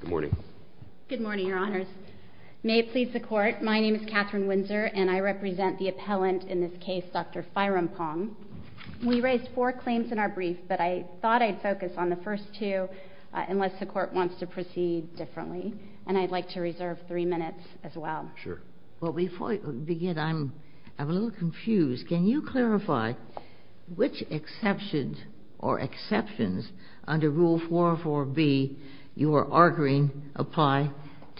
Good morning. Good morning, your honors. May it please the court, my name is Catherine Windsor and I represent the appellant in this case, Dr. Firempong. We raised four claims in our brief but I thought I'd focus on the first two unless the court wants to proceed differently and I'd like to reserve three minutes as well. Sure. Well before we begin, I'm a little confused. Can you tell me which exceptions or exceptions under Rule 404B you are arguing apply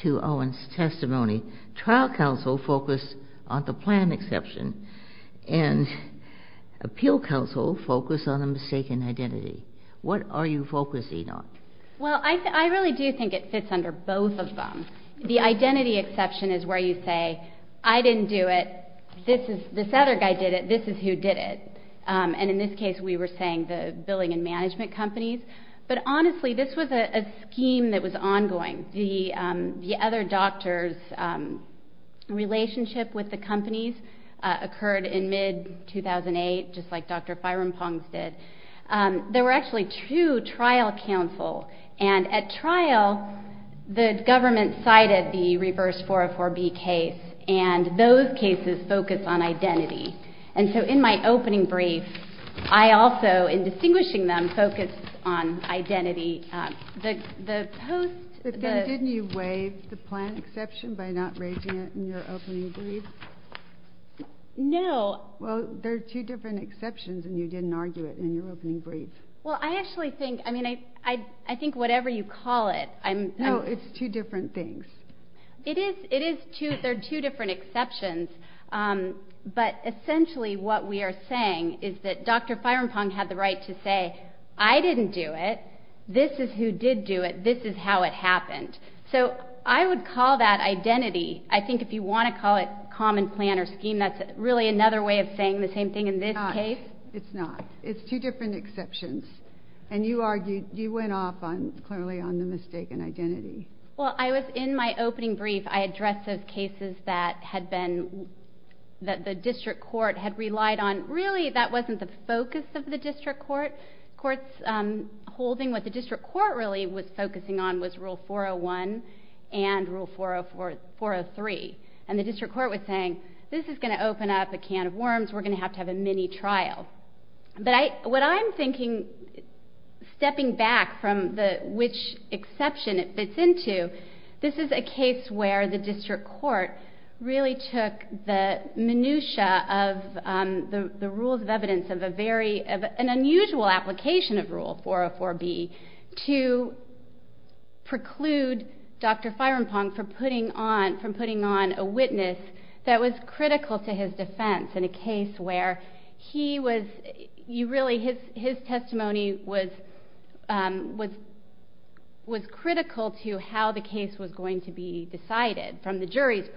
to Owen's testimony. Trial counsel focused on the plan exception and appeal counsel focused on a mistaken identity. What are you focusing on? Well I really do think it fits under both of them. The identity exception is where you say I didn't do it, this other guy did it, this is who did it and in this case we were saying the billing and management companies but honestly this was a scheme that was ongoing. The other doctors relationship with the companies occurred in mid-2008 just like Dr. Firempong did. There were actually two trial counsel and at trial the government cited the reverse 404B case and those cases focus on identity and so in my opening brief I also in distinguishing them focus on identity. Didn't you waive the plan exception by not raising it in your opening brief? No. Well there are two different exceptions and you didn't argue it in your opening brief and I think whatever you call it. No, it's two different things. It is, there are two different exceptions but essentially what we are saying is that Dr. Firempong had the right to say I didn't do it, this is who did do it, this is how it happened. So I would call that identity I think if you want to call it common plan or scheme that's really another way of saying the same thing in this case. It's not. It's two different exceptions and you argued you went off on clearly on the mistaken identity. Well I was in my opening brief I addressed those cases that had been that the district court had relied on really that wasn't the focus of the district court. Courts holding what the district court really was focusing on was rule 401 and rule 403 and the district court was saying this is going to open up a can of worms we're going to have to have a mini trial but I what I'm thinking stepping back from the which exception it fits into this is a case where the district court really took the minutiae of the rules of evidence of a very of an unusual application of rule 404 B to preclude Dr. Firempong for putting on from putting on a witness that was he was you really his his testimony was was was critical to how the case was going to be decided from the jury's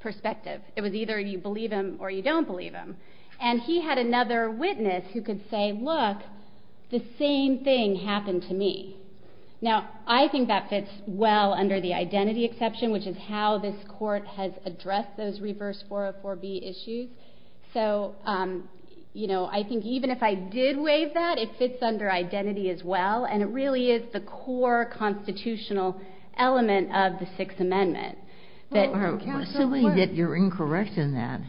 perspective. It was either you believe him or you don't believe him and he had another witness who could say look the same thing happened to me. Now I think that fits well under the identity exception which is how this court has addressed those reverse 404 B issues. So you know I think even if I did waive that it fits under identity as well and it really is the core constitutional element of the Sixth Amendment that are assuming that you're incorrect in that.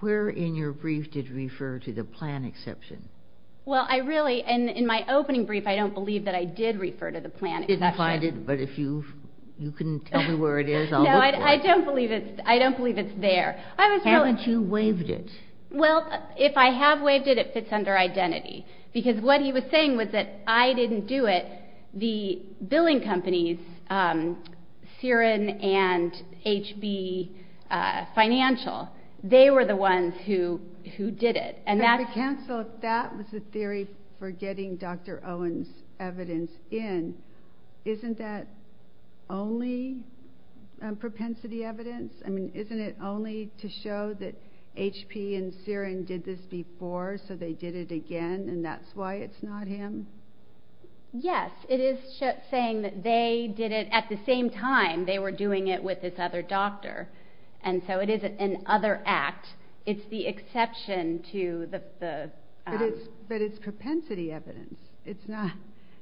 Where in your brief did you refer to the plan exception? Well I really and in my opening brief I don't believe that I did refer to the plan. You didn't find it but if you you can tell me where it is I'll look for it. No I don't believe it I don't believe it's there. Haven't you waived it? Well if I have waived it it fits under identity because what he was saying was that I didn't do it the billing companies SIREN and HB Financial they were the ones who who did it and that's. So if that was the theory for getting Dr. Owens evidence in isn't that only propensity evidence? I mean isn't it only to show that HP and SIREN did this before so they did it again and that's why it's not him? Yes it is saying that they did it at the same time they were doing it with this other doctor and so it is an other act it's the exception to the. But it's propensity evidence it's not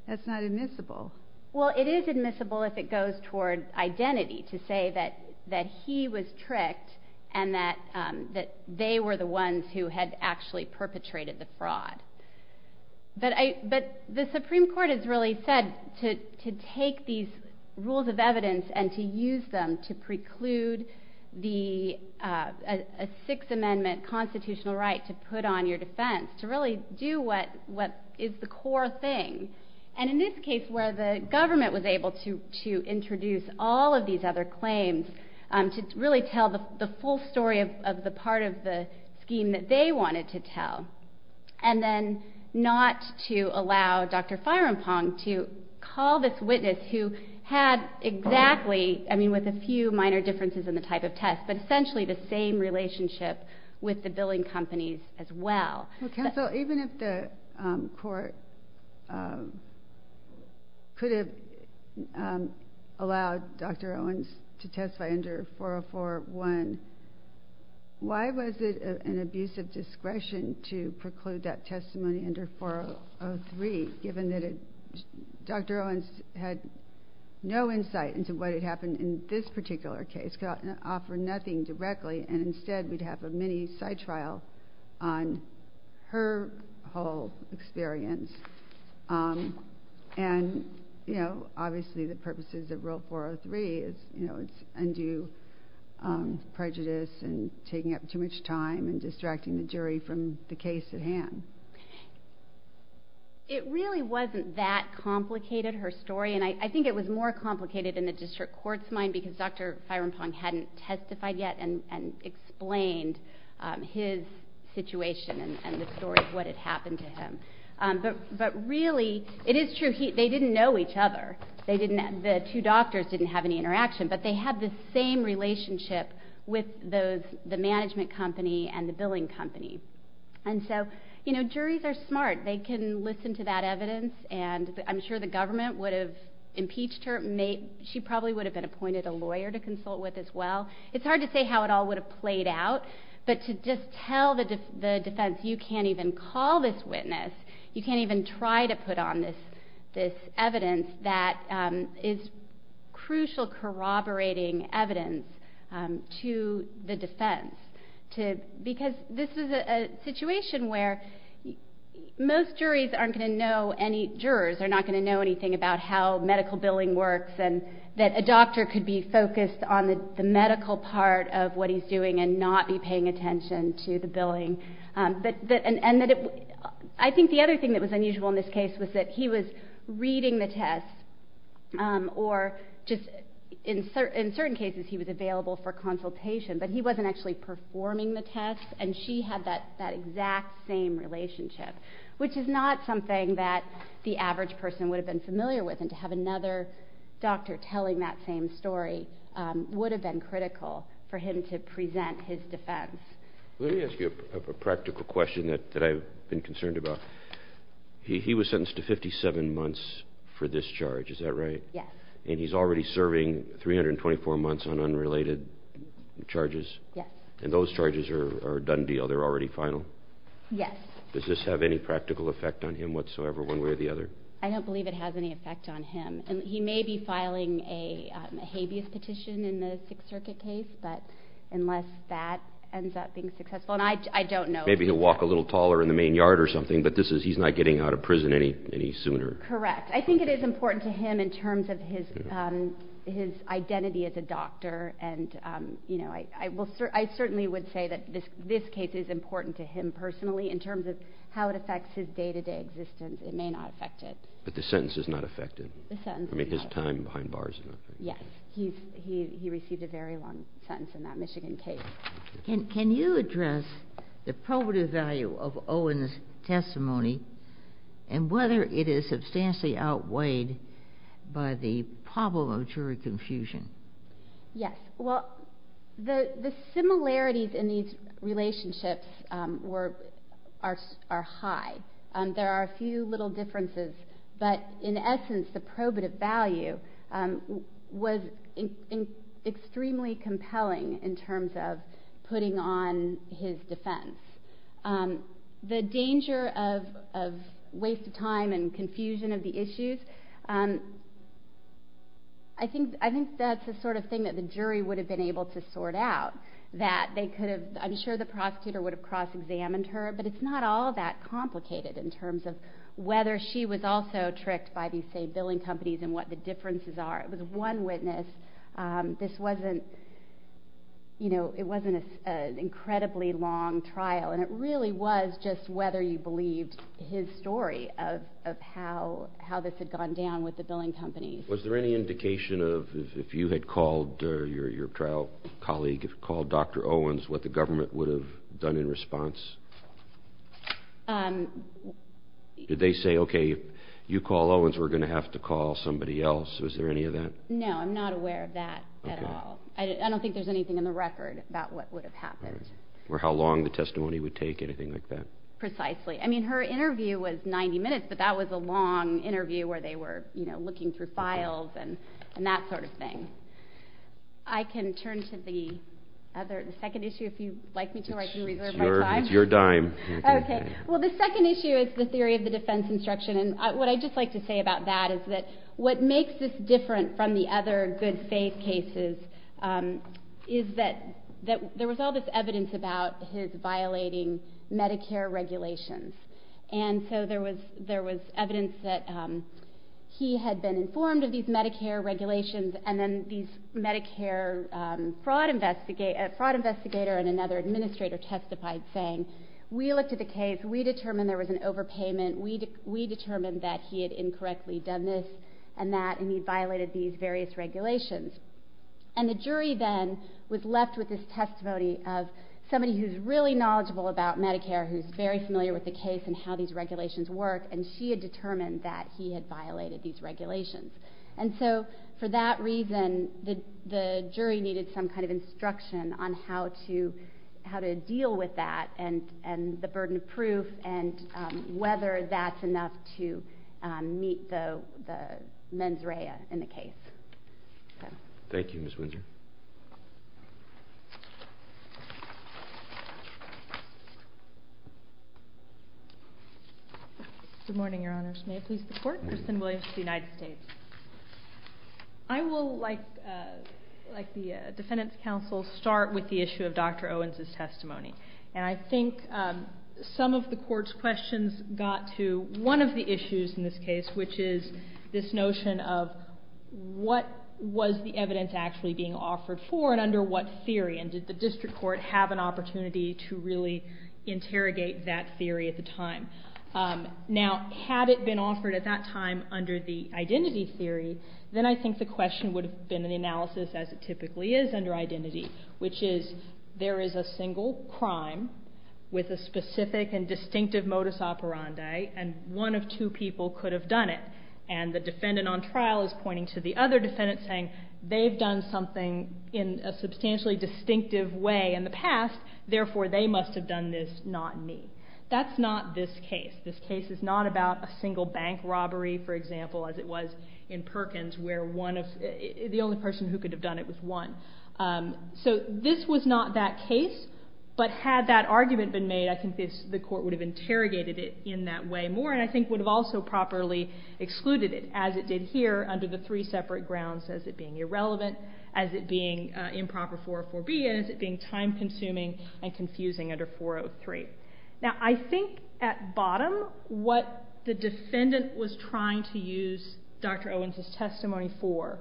that's not admissible. Well it is admissible if it goes toward identity to say that that he was tricked and that that they were the ones who had actually perpetrated the fraud. But I but the Supreme Court has really said to take these rules of evidence and to use them to preclude the Sixth Amendment constitutional right to put on your defense to really do what what is the core thing and in this case where the government was able to to introduce all of these other claims to really tell the full story of the part of the scheme that they wanted to tell and then not to allow Dr. Firampong to call this witness who had exactly I mean with a few minor differences in the type of test but essentially the same relationship with the billing companies as well. Counsel even if the court could have allowed Dr. Owens to testify under 404-1 why was it an abuse of discretion to preclude that testimony under 403 given that Dr. Owens had no insight into what had happened in this particular case could offer nothing directly and instead we'd have a mini side trial on her whole experience and you know obviously the purposes of rule 403 is you know it's undue prejudice and taking up too much time and distracting the jury from the case at hand. It really wasn't that complicated her story and I think it was more complicated in the district court's mind because Dr. Owens didn't know his situation and the story of what had happened to him. But really it is true they didn't know each other they didn't the two doctors didn't have any interaction but they had the same relationship with those the management company and the billing company and so you know juries are smart they can listen to that evidence and I'm sure the government would have impeached her made she probably would have been appointed a lawyer to consult with as well it's hard to say how it all would have played out but to just tell the defense you can't even call this witness you can't even try to put on this this evidence that is crucial corroborating evidence to the defense to because this is a situation where most juries aren't going to know any jurors are not going to know anything about how medical billing works and that a doctor could be focused on the medical part of what he's doing and not be paying attention to the billing but that and that it I think the other thing that was unusual in this case was that he was reading the test or just in certain in certain cases he was available for consultation but he wasn't actually performing the test and she had that that exact same relationship which is not something that the average person would have been familiar with and to have another doctor telling that same story would have been critical for him to present his defense. Let me ask you a practical question that I've been concerned about. He was sentenced to 57 months for this charge is that right? Yes. And he's already serving 324 months on unrelated charges? Yes. And those charges are done deal they're already final? Yes. Does this have any practical effect on him whatsoever one way or the other? I may be filing a habeas petition in the Sixth Circuit case but unless that ends up being successful and I don't know. Maybe he'll walk a little taller in the main yard or something but this is he's not getting out of prison any any sooner? Correct. I think it is important to him in terms of his his identity as a doctor and you know I will certainly would say that this this case is important to him personally in terms of how it affects his day-to-day existence it may not affect it. But the sentence is not affected? The sentence is not affected. I mean his time behind bars is not affected? Yes. He received a very long sentence in that Michigan case. Can you address the probative value of Owen's testimony and whether it is substantially outweighed by the problem of jury confusion? Yes. Well the the similarities in these relationships were are high and there are a few little differences but in essence the probative value was extremely compelling in terms of putting on his defense. The danger of waste of time and confusion of the issues I think I think that's the sort of thing that the jury would have been able to sort out that they could have I'm sure the prosecutor would have examined her but it's not all that complicated in terms of whether she was also tricked by these same billing companies and what the differences are. It was one witness this wasn't you know it wasn't an incredibly long trial and it really was just whether you believed his story of how how this had gone down with the billing companies. Was there any indication of if you had called your your trial colleague called Dr. Owens what the government would have done in response? Did they say okay you call Owens we're gonna have to call somebody else? Was there any of that? No I'm not aware of that at all. I don't think there's anything in the record about what would have happened. Or how long the testimony would take anything like that? Precisely I mean her interview was 90 minutes but that was a long interview where they were you know looking through files and and that sort of thing. I can turn to the other the second issue if you'd like me to reserve my time. It's your dime. Okay well the second issue is the theory of the defense instruction and what I'd just like to say about that is that what makes this different from the other good faith cases is that that there was all this evidence about his violating Medicare regulations and so there was there was evidence that he had been informed of these Medicare regulations and then these Medicare fraud investigate fraud investigator and another administrator testified saying we looked at the case we determined there was an overpayment we determined that he had incorrectly done this and that he violated these various regulations and the jury then was left with this testimony of somebody who's really knowledgeable about Medicare who's very familiar with the case and how these regulations work and she had determined that he had violated these regulations and so for that reason the how to deal with that and and the burden of proof and whether that's enough to meet the the mens rea in the case. Thank you Ms. Windsor. Good morning your honors. May I please report? Kristen Williams, United States. I will like like the defendants counsel start with the issue of Dr. Owens's testimony and I think some of the court's questions got to one of the issues in this case which is this notion of what was the evidence actually being offered for and under what theory and did the district court have an opportunity to really interrogate that theory at the time. Now had it been offered at that time under the identity theory then I think the question would have been an analysis as it typically is under identity which is there is a single crime with a specific and distinctive modus operandi and one of two people could have done it and the defendant on trial is pointing to the other defendant saying they've done something in a substantially distinctive way in the past therefore they must have done this not me. That's not this case. This is not the case but had that argument been made I think the court would have interrogated it in that way more and I think would have also properly excluded it as it did here under the three separate grounds as it being irrelevant as it being improper 404B as it being time-consuming and confusing under 403. Now I think at bottom what the defendant was trying to use Dr. Owens's testimony for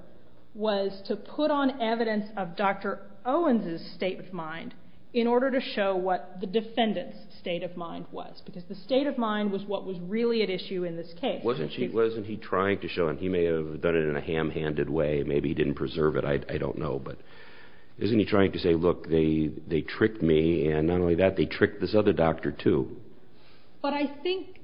was to put on evidence of Dr. Owens's state of mind in order to show what the defendant's state of mind was because the state of mind was what was really at issue in this case. Wasn't he wasn't he trying to show and he may have done it in a ham-handed way maybe he didn't preserve it I don't know but isn't he trying to say look they they tricked me and not only that they tricked this other doctor too. But I think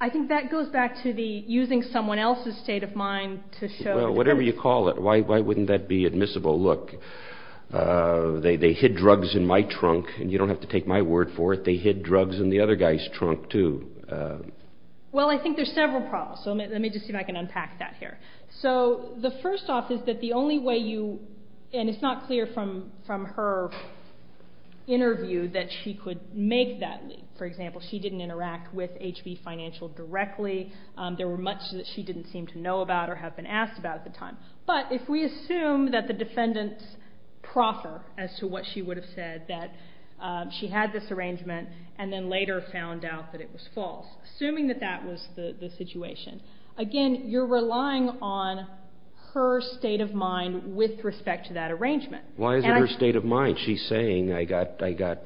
I think that goes back to the using someone else's state of mind to show. Whatever you call it why wouldn't that be admissible look they they hid drugs in my trunk and you don't have to take my word for it they hid drugs in the other guy's trunk too. Well I think there's several problems so let me just see if I can unpack that here. So the first off is that the only way you and it's not clear from from her interview that she could make that leap. For example she didn't interact with HB Financial directly there were much that she didn't seem to know about or have been asked about at the time. But if we assume that the defendants proffer as to what she would have said that she had this arrangement and then later found out that it was false. Assuming that that was the the situation again you're relying on her state of mind with respect to that arrangement. Why is it state of mind she's saying I got I got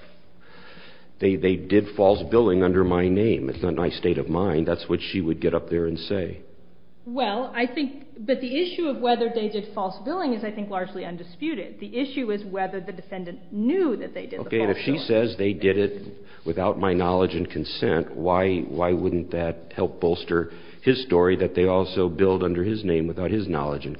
they they did false billing under my name it's not my state of mind that's what she would get up there and say. Well I think but the issue of whether they did false billing is I think largely undisputed. The issue is whether the defendant knew that they did. Okay if she says they did it without my knowledge and consent why why wouldn't that help bolster his story that they also billed under his name without his knowledge and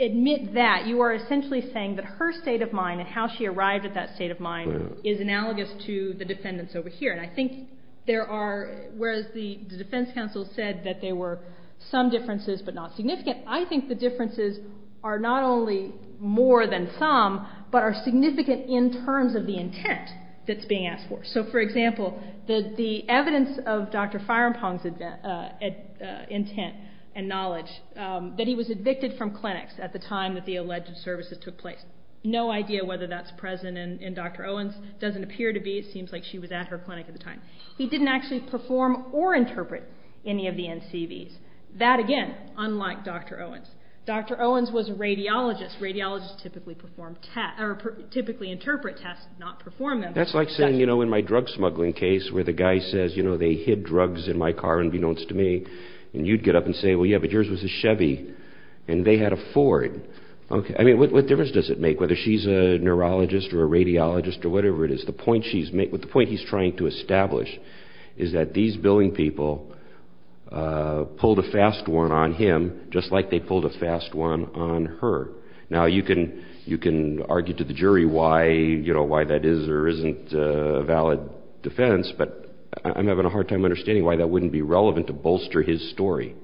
admit that you are essentially saying that her state of mind and how she arrived at that state of mind is analogous to the defendants over here and I think there are whereas the defense counsel said that they were some differences but not significant. I think the differences are not only more than some but are significant in terms of the intent that's being asked for. So for example that the evidence of Dr. Firampong's intent and knowledge that he was evicted from clinics at the time that the alleged services took place. No idea whether that's present in Dr. Owens doesn't appear to be it seems like she was at her clinic at the time. He didn't actually perform or interpret any of the NCVs. That again unlike Dr. Owens. Dr. Owens was a radiologist. Radiologists typically perform tests or typically interpret tests not perform them. That's like saying you know in my drug smuggling case where the guy says you know they hid drugs in my car and be knowns to me and you'd get up and say well yeah but yours was a Chevy and they had a Ford. Okay I mean what difference does it make whether she's a neurologist or a radiologist or whatever it is the point she's made with the point he's trying to establish is that these billing people pulled a fast one on him just like they pulled a fast one on her. Now you can you can argue to the jury why you know why that is or isn't a valid defense but I'm having a hard time understanding why that wouldn't be relevant to bolster his story.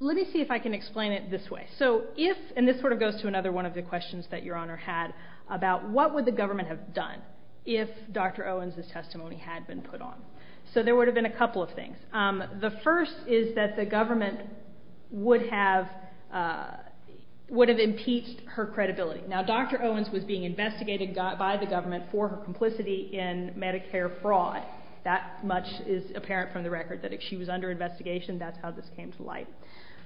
Let me see if I can explain it this way. So if and this sort of goes to another one of the questions that your honor had about what would the government have done if Dr. Owens' testimony had been put on. So there would have been a couple of things. The first is that the government would have would have impeached her credibility. Now Dr. Owens was being investigated by the government for her complicity in Medicare fraud. That much is apparent from the record that if she was under investigation that's how this came to light.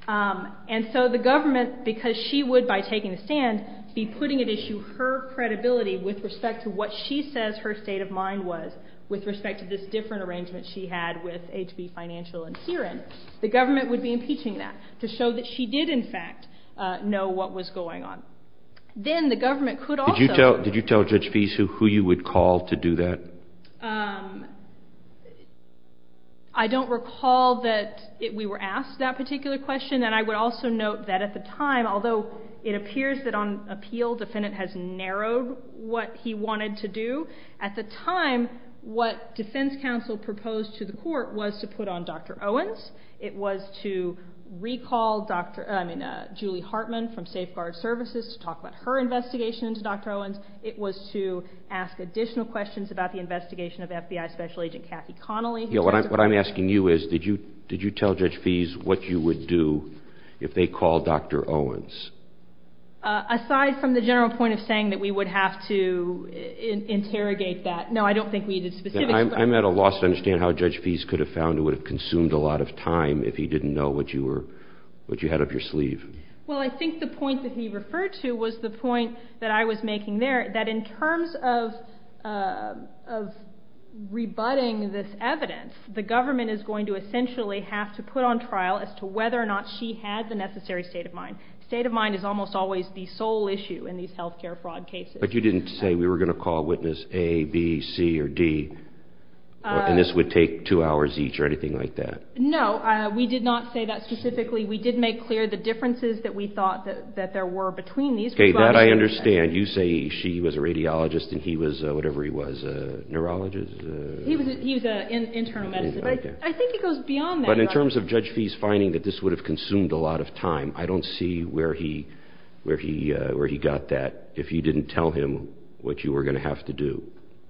And so the government because she would by taking the stand be putting at issue her credibility with respect to what she says her state of mind was with respect to this different arrangement she had with HB Financial and SIREN. The government would be impeaching that to show that she did in fact know what was going on. Then the government could also. Did you tell did you tell Judge Pease who you would call to do that? I don't recall that if we were asked that particular question and I would also note that at the time although it appears that on appeal defendant has narrowed what he wanted to do. At the time what defense counsel proposed to the court was to put on Dr. Owens. It was to recall Julie Hartman from Safeguard Services to talk about her What I'm asking you is did you did you tell Judge Pease what you would do if they called Dr. Owens? Aside from the general point of saying that we would have to interrogate that no I don't think we did. I'm at a loss to understand how Judge Pease could have found it would have consumed a lot of time if he didn't know what you were what you had up your sleeve. Well I think the point that he referred to was the point that I was making there that in terms of rebutting this evidence the government is going to essentially have to put on trial as to whether or not she had the necessary state of mind. State of mind is almost always the sole issue in these health care fraud cases. But you didn't say we were going to call witness A B C or D and this would take two hours each or anything like that? No we did not say that specifically we did make clear the there were between these. Okay that I understand you say she was a radiologist and he was whatever he was a neurologist? He was an internal medicine. I think it goes beyond that. But in terms of Judge Pease finding that this would have consumed a lot of time I don't see where he where he where he got that if you didn't tell him what you were going to have to do.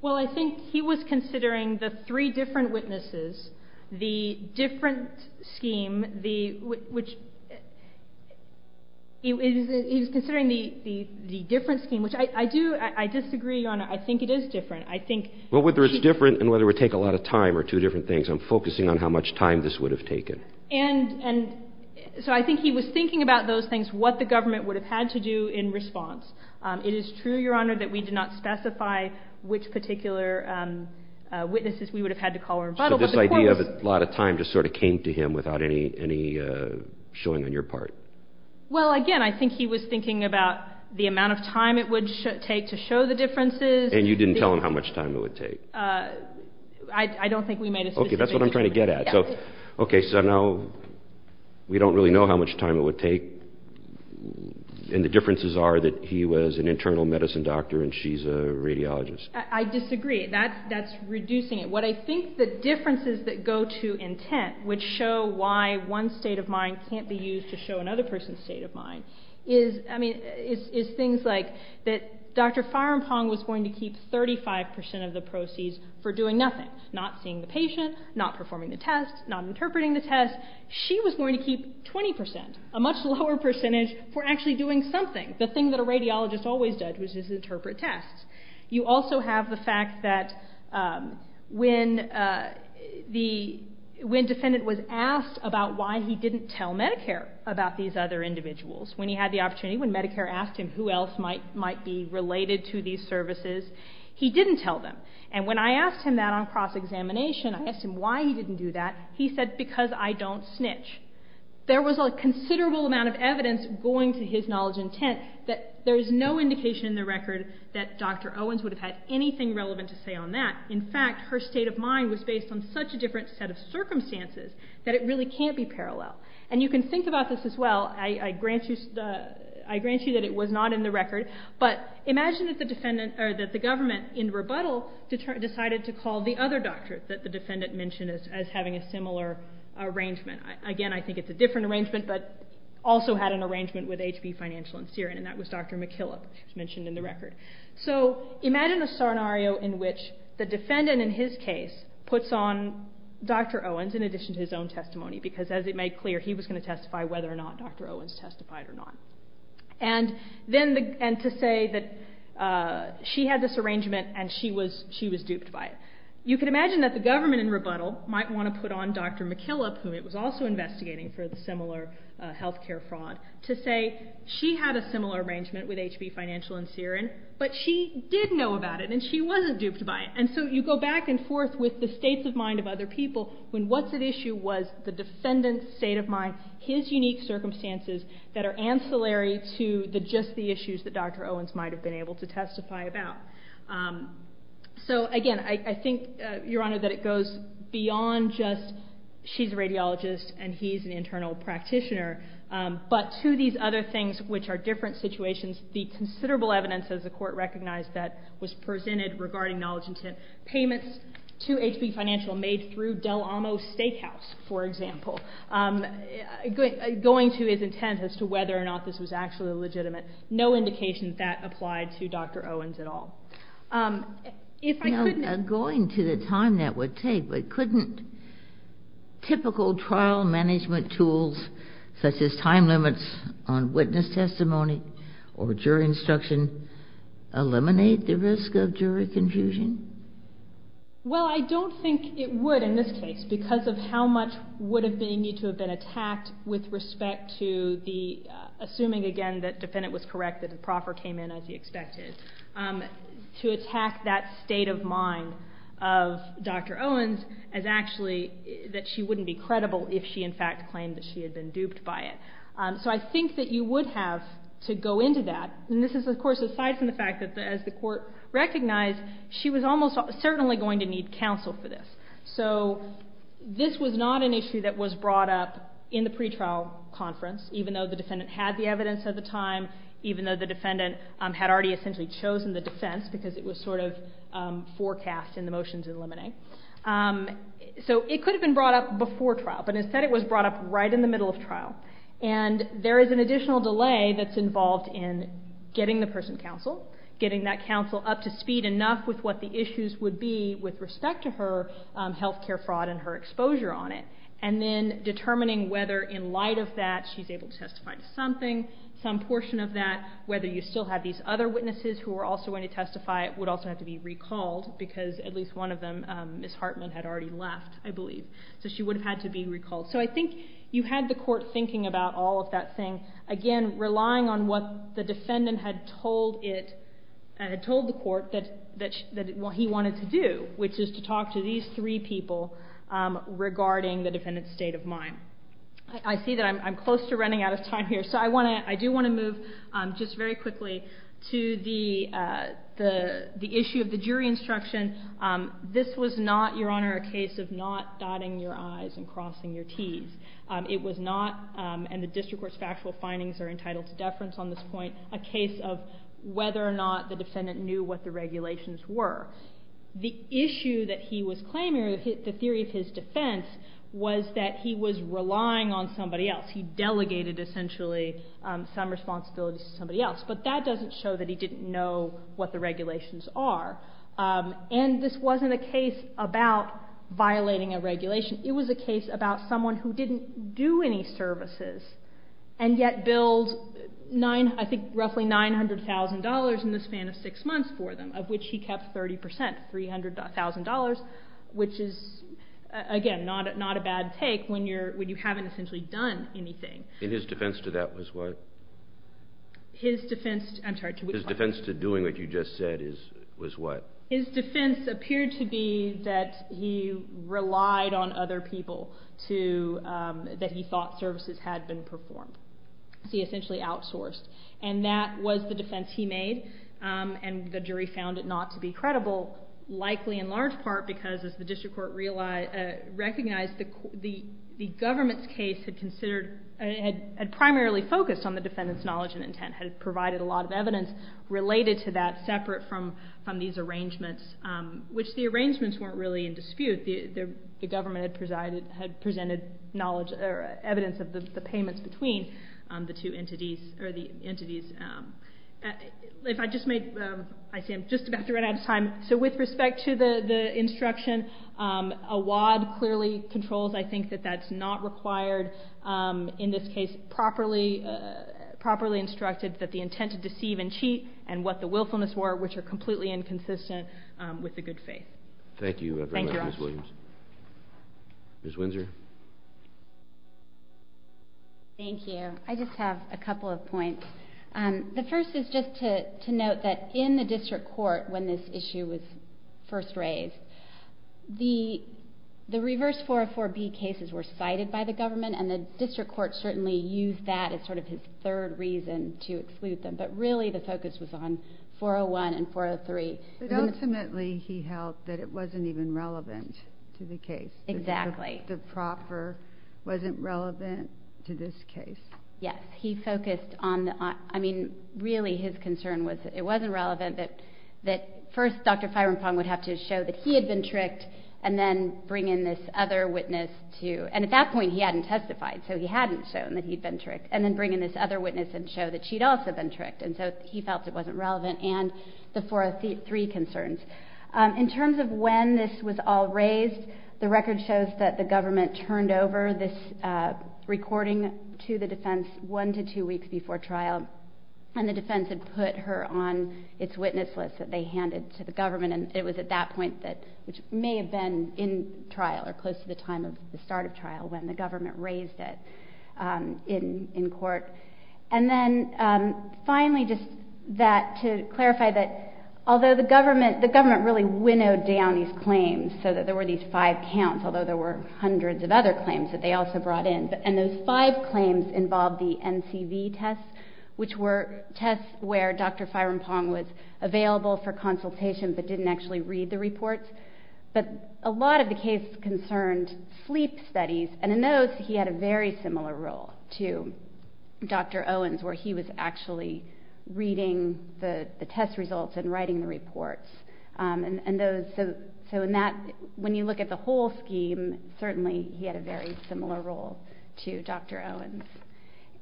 Well I think he was considering the different scheme which I do I disagree on I think it is different. I think. Well whether it's different and whether it would take a lot of time or two different things I'm focusing on how much time this would have taken. And so I think he was thinking about those things what the government would have had to do in response. It is true your honor that we did not specify which particular witnesses we would have had to call or rebuttal. So this idea of a lot of time just sort of came to him without any showing on your part? Well again I think he was thinking about the amount of time it would take to show the differences. And you didn't tell him how much time it would take? I don't think we made a specific. Okay that's what I'm trying to get at. So okay so now we don't really know how much time it would take and the differences are that he was an internal medicine doctor and she's a radiologist. I disagree that that's reducing it. What I think the differences that go to intent which show why one state of mind can't be used to show another person's state of mind is I mean is things like that Dr. Firampong was going to keep 35% of the proceeds for doing nothing. Not seeing the patient, not performing the test, not interpreting the test. She was going to keep 20% a much lower percentage for actually doing something. The thing that a radiologist always does is interpret tests. You also have the other individuals. When he had the opportunity, when Medicare asked him who else might be related to these services, he didn't tell them. And when I asked him that on cross-examination, I asked him why he didn't do that, he said because I don't snitch. There was a considerable amount of evidence going to his knowledge intent that there's no indication in the record that Dr. Owens would have had anything relevant to say on that. In fact her state of mind was based on such a different set of circumstances that it really can't be parallel. And you can think about this as well. I grant you that it was not in the record, but imagine that the government in rebuttal decided to call the other doctor that the defendant mentioned as having a similar arrangement. Again I think it's a different arrangement but also had an arrangement with HB Financial and Syrian and that was Dr. McKillop mentioned in the record. So imagine a defendant in his case puts on Dr. Owens in addition to his own testimony because as it made clear he was going to testify whether or not Dr. Owens testified or not. And to say that she had this arrangement and she was duped by it. You could imagine that the government in rebuttal might want to put on Dr. McKillop, whom it was also investigating for the similar health care fraud, to say she had a similar arrangement with HB Financial and Syrian but she did know about it and she wasn't duped by it. And so you go back and forth with the states of mind of other people when what's at issue was the defendant's state of mind, his unique circumstances that are ancillary to just the issues that Dr. Owens might have been able to testify about. So again I think, Your Honor, that it goes beyond just she's a radiologist and he's an internal practitioner, but to these other things which are different situations, the considerable evidence, as the Court recognized, that was presented regarding knowledge intent payments to HB Financial made through Del Amo Steakhouse, for example, going to his intent as to whether or not this was actually legitimate. No indication that applied to Dr. Owens at all. If I couldn't... You know, going to the time that would take, but couldn't typical trial management tools, such as time limits on witness testimony or jury instruction, eliminate the risk of jury confusion? Well, I don't think it would in this case because of how much would have been needed to have been attacked with respect to the, assuming again that the defendant was correct, that the proffer came in as he expected, to attack that state of mind of Dr. Owens as actually that she wouldn't be credible if she in fact claimed that she had been duped by it. So I think that you would have to go into that, and this is of course aside from the fact that as the Court recognized, she was almost certainly going to need counsel for this. So this was not an issue that was brought up in the pretrial conference, even though the defendant had the evidence at the time, even though the defendant had already essentially chosen the defense because it was sort of forecast in the motions in Lemonade. So it could have been brought up before trial, but instead it was brought up right in the middle of trial. And there is an additional delay that's involved in getting the person counsel, getting that counsel up to speed enough with what the issues would be with respect to her health care fraud and her exposure on it, and then determining whether in light of that she's able to testify to something, some portion of that, whether you still have these other witnesses who are also going to testify would also have to be recalled because at least one of them, Ms. Hartman, had already left, I think you had the Court thinking about all of that thing, again, relying on what the defendant had told it, had told the Court that what he wanted to do, which is to talk to these three people regarding the defendant's state of mind. I see that I'm close to running out of time here, so I do want to move just very quickly to the issue of the jury instruction. This was not, Your Honor, a case of not nodding your eyes and crossing your Ts. It was not, and the district court's factual findings are entitled to deference on this point, a case of whether or not the defendant knew what the regulations were. The issue that he was claiming, or the theory of his defense, was that he was relying on somebody else. He delegated, essentially, some responsibility to somebody else. But that doesn't show that he didn't know what the regulations are. And this wasn't a case of violating a regulation. It was a case about someone who didn't do any services, and yet billed, I think, roughly $900,000 in the span of six months for them, of which he kept 30%, $300,000, which is, again, not a bad take when you haven't essentially done anything. In his defense to that was what? His defense, I'm sorry, to which point? His defense to doing what you just said was what? His defense appeared to be that he relied on other people that he thought services had been performed. He essentially outsourced. And that was the defense he made, and the jury found it not to be credible, likely in large part because, as the district court recognized, the government's case had primarily focused on the defendant's knowledge and intent, had provided a lot of evidence related to that separate from these arrangements, which the arrangements weren't really in dispute. The government had presented knowledge or evidence of the payments between the two entities, or the entities. If I just make... I see I'm just about to run out of time. So with respect to the instruction, a WAD clearly controls, I think, that that's not required, in this case, properly instructed that the intent to deceive and cheat and what the willfulness were, which are completely inconsistent with the good faith. Thank you very much, Ms. Williams. Ms. Windsor? Thank you. I just have a couple of points. The first is just to note that in the district court, when this issue was first raised, the reverse 404B cases were cited by the government, and the district court certainly used that as sort of his third reason to exclude them. But really, the focus was on 401 and 403. But ultimately, he held that it wasn't even relevant to the case. Exactly. The proffer wasn't relevant to this case. Yes. He focused on... I mean, really, his concern was that it wasn't relevant, that first, Dr. Phirampong would have to show that he had been tricked, and then bring in this other witness to... And at that point, he hadn't testified, so he hadn't shown that he'd been tricked, and then bring in this other witness and show that she'd also been tricked. And so he felt it wasn't relevant, and the 403 concerns. In terms of when this was all raised, the record shows that the government turned over this recording to the defense one to two weeks before trial, and the defense had put her on its witness list that they handed to the government. And it was at that point that... Which may have been in trial, or close to the time of the start of trial, when the government raised it in court. And then, finally, just that... To clarify that, although the government really winnowed down these claims, so that there were these five counts, although there were hundreds of other claims that they also brought in, and those five claims involved the NCV tests, which were tests where Dr. Phirampong was available for consultation, but didn't actually read the reports. But a lot of the cases concerned sleep studies, and in those, he had a very similar role to Dr. Owens, where he was actually reading the test results and writing the reports. And those... So in that... When you look at the whole scheme, certainly, he had a very similar role to Dr. Owens.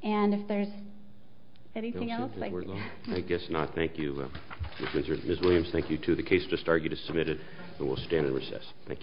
And if there's anything else... I guess not. Thank you, Ms. Williams. Thank you, too. The case just argued is submitted, and we'll stand in recess. Thank you.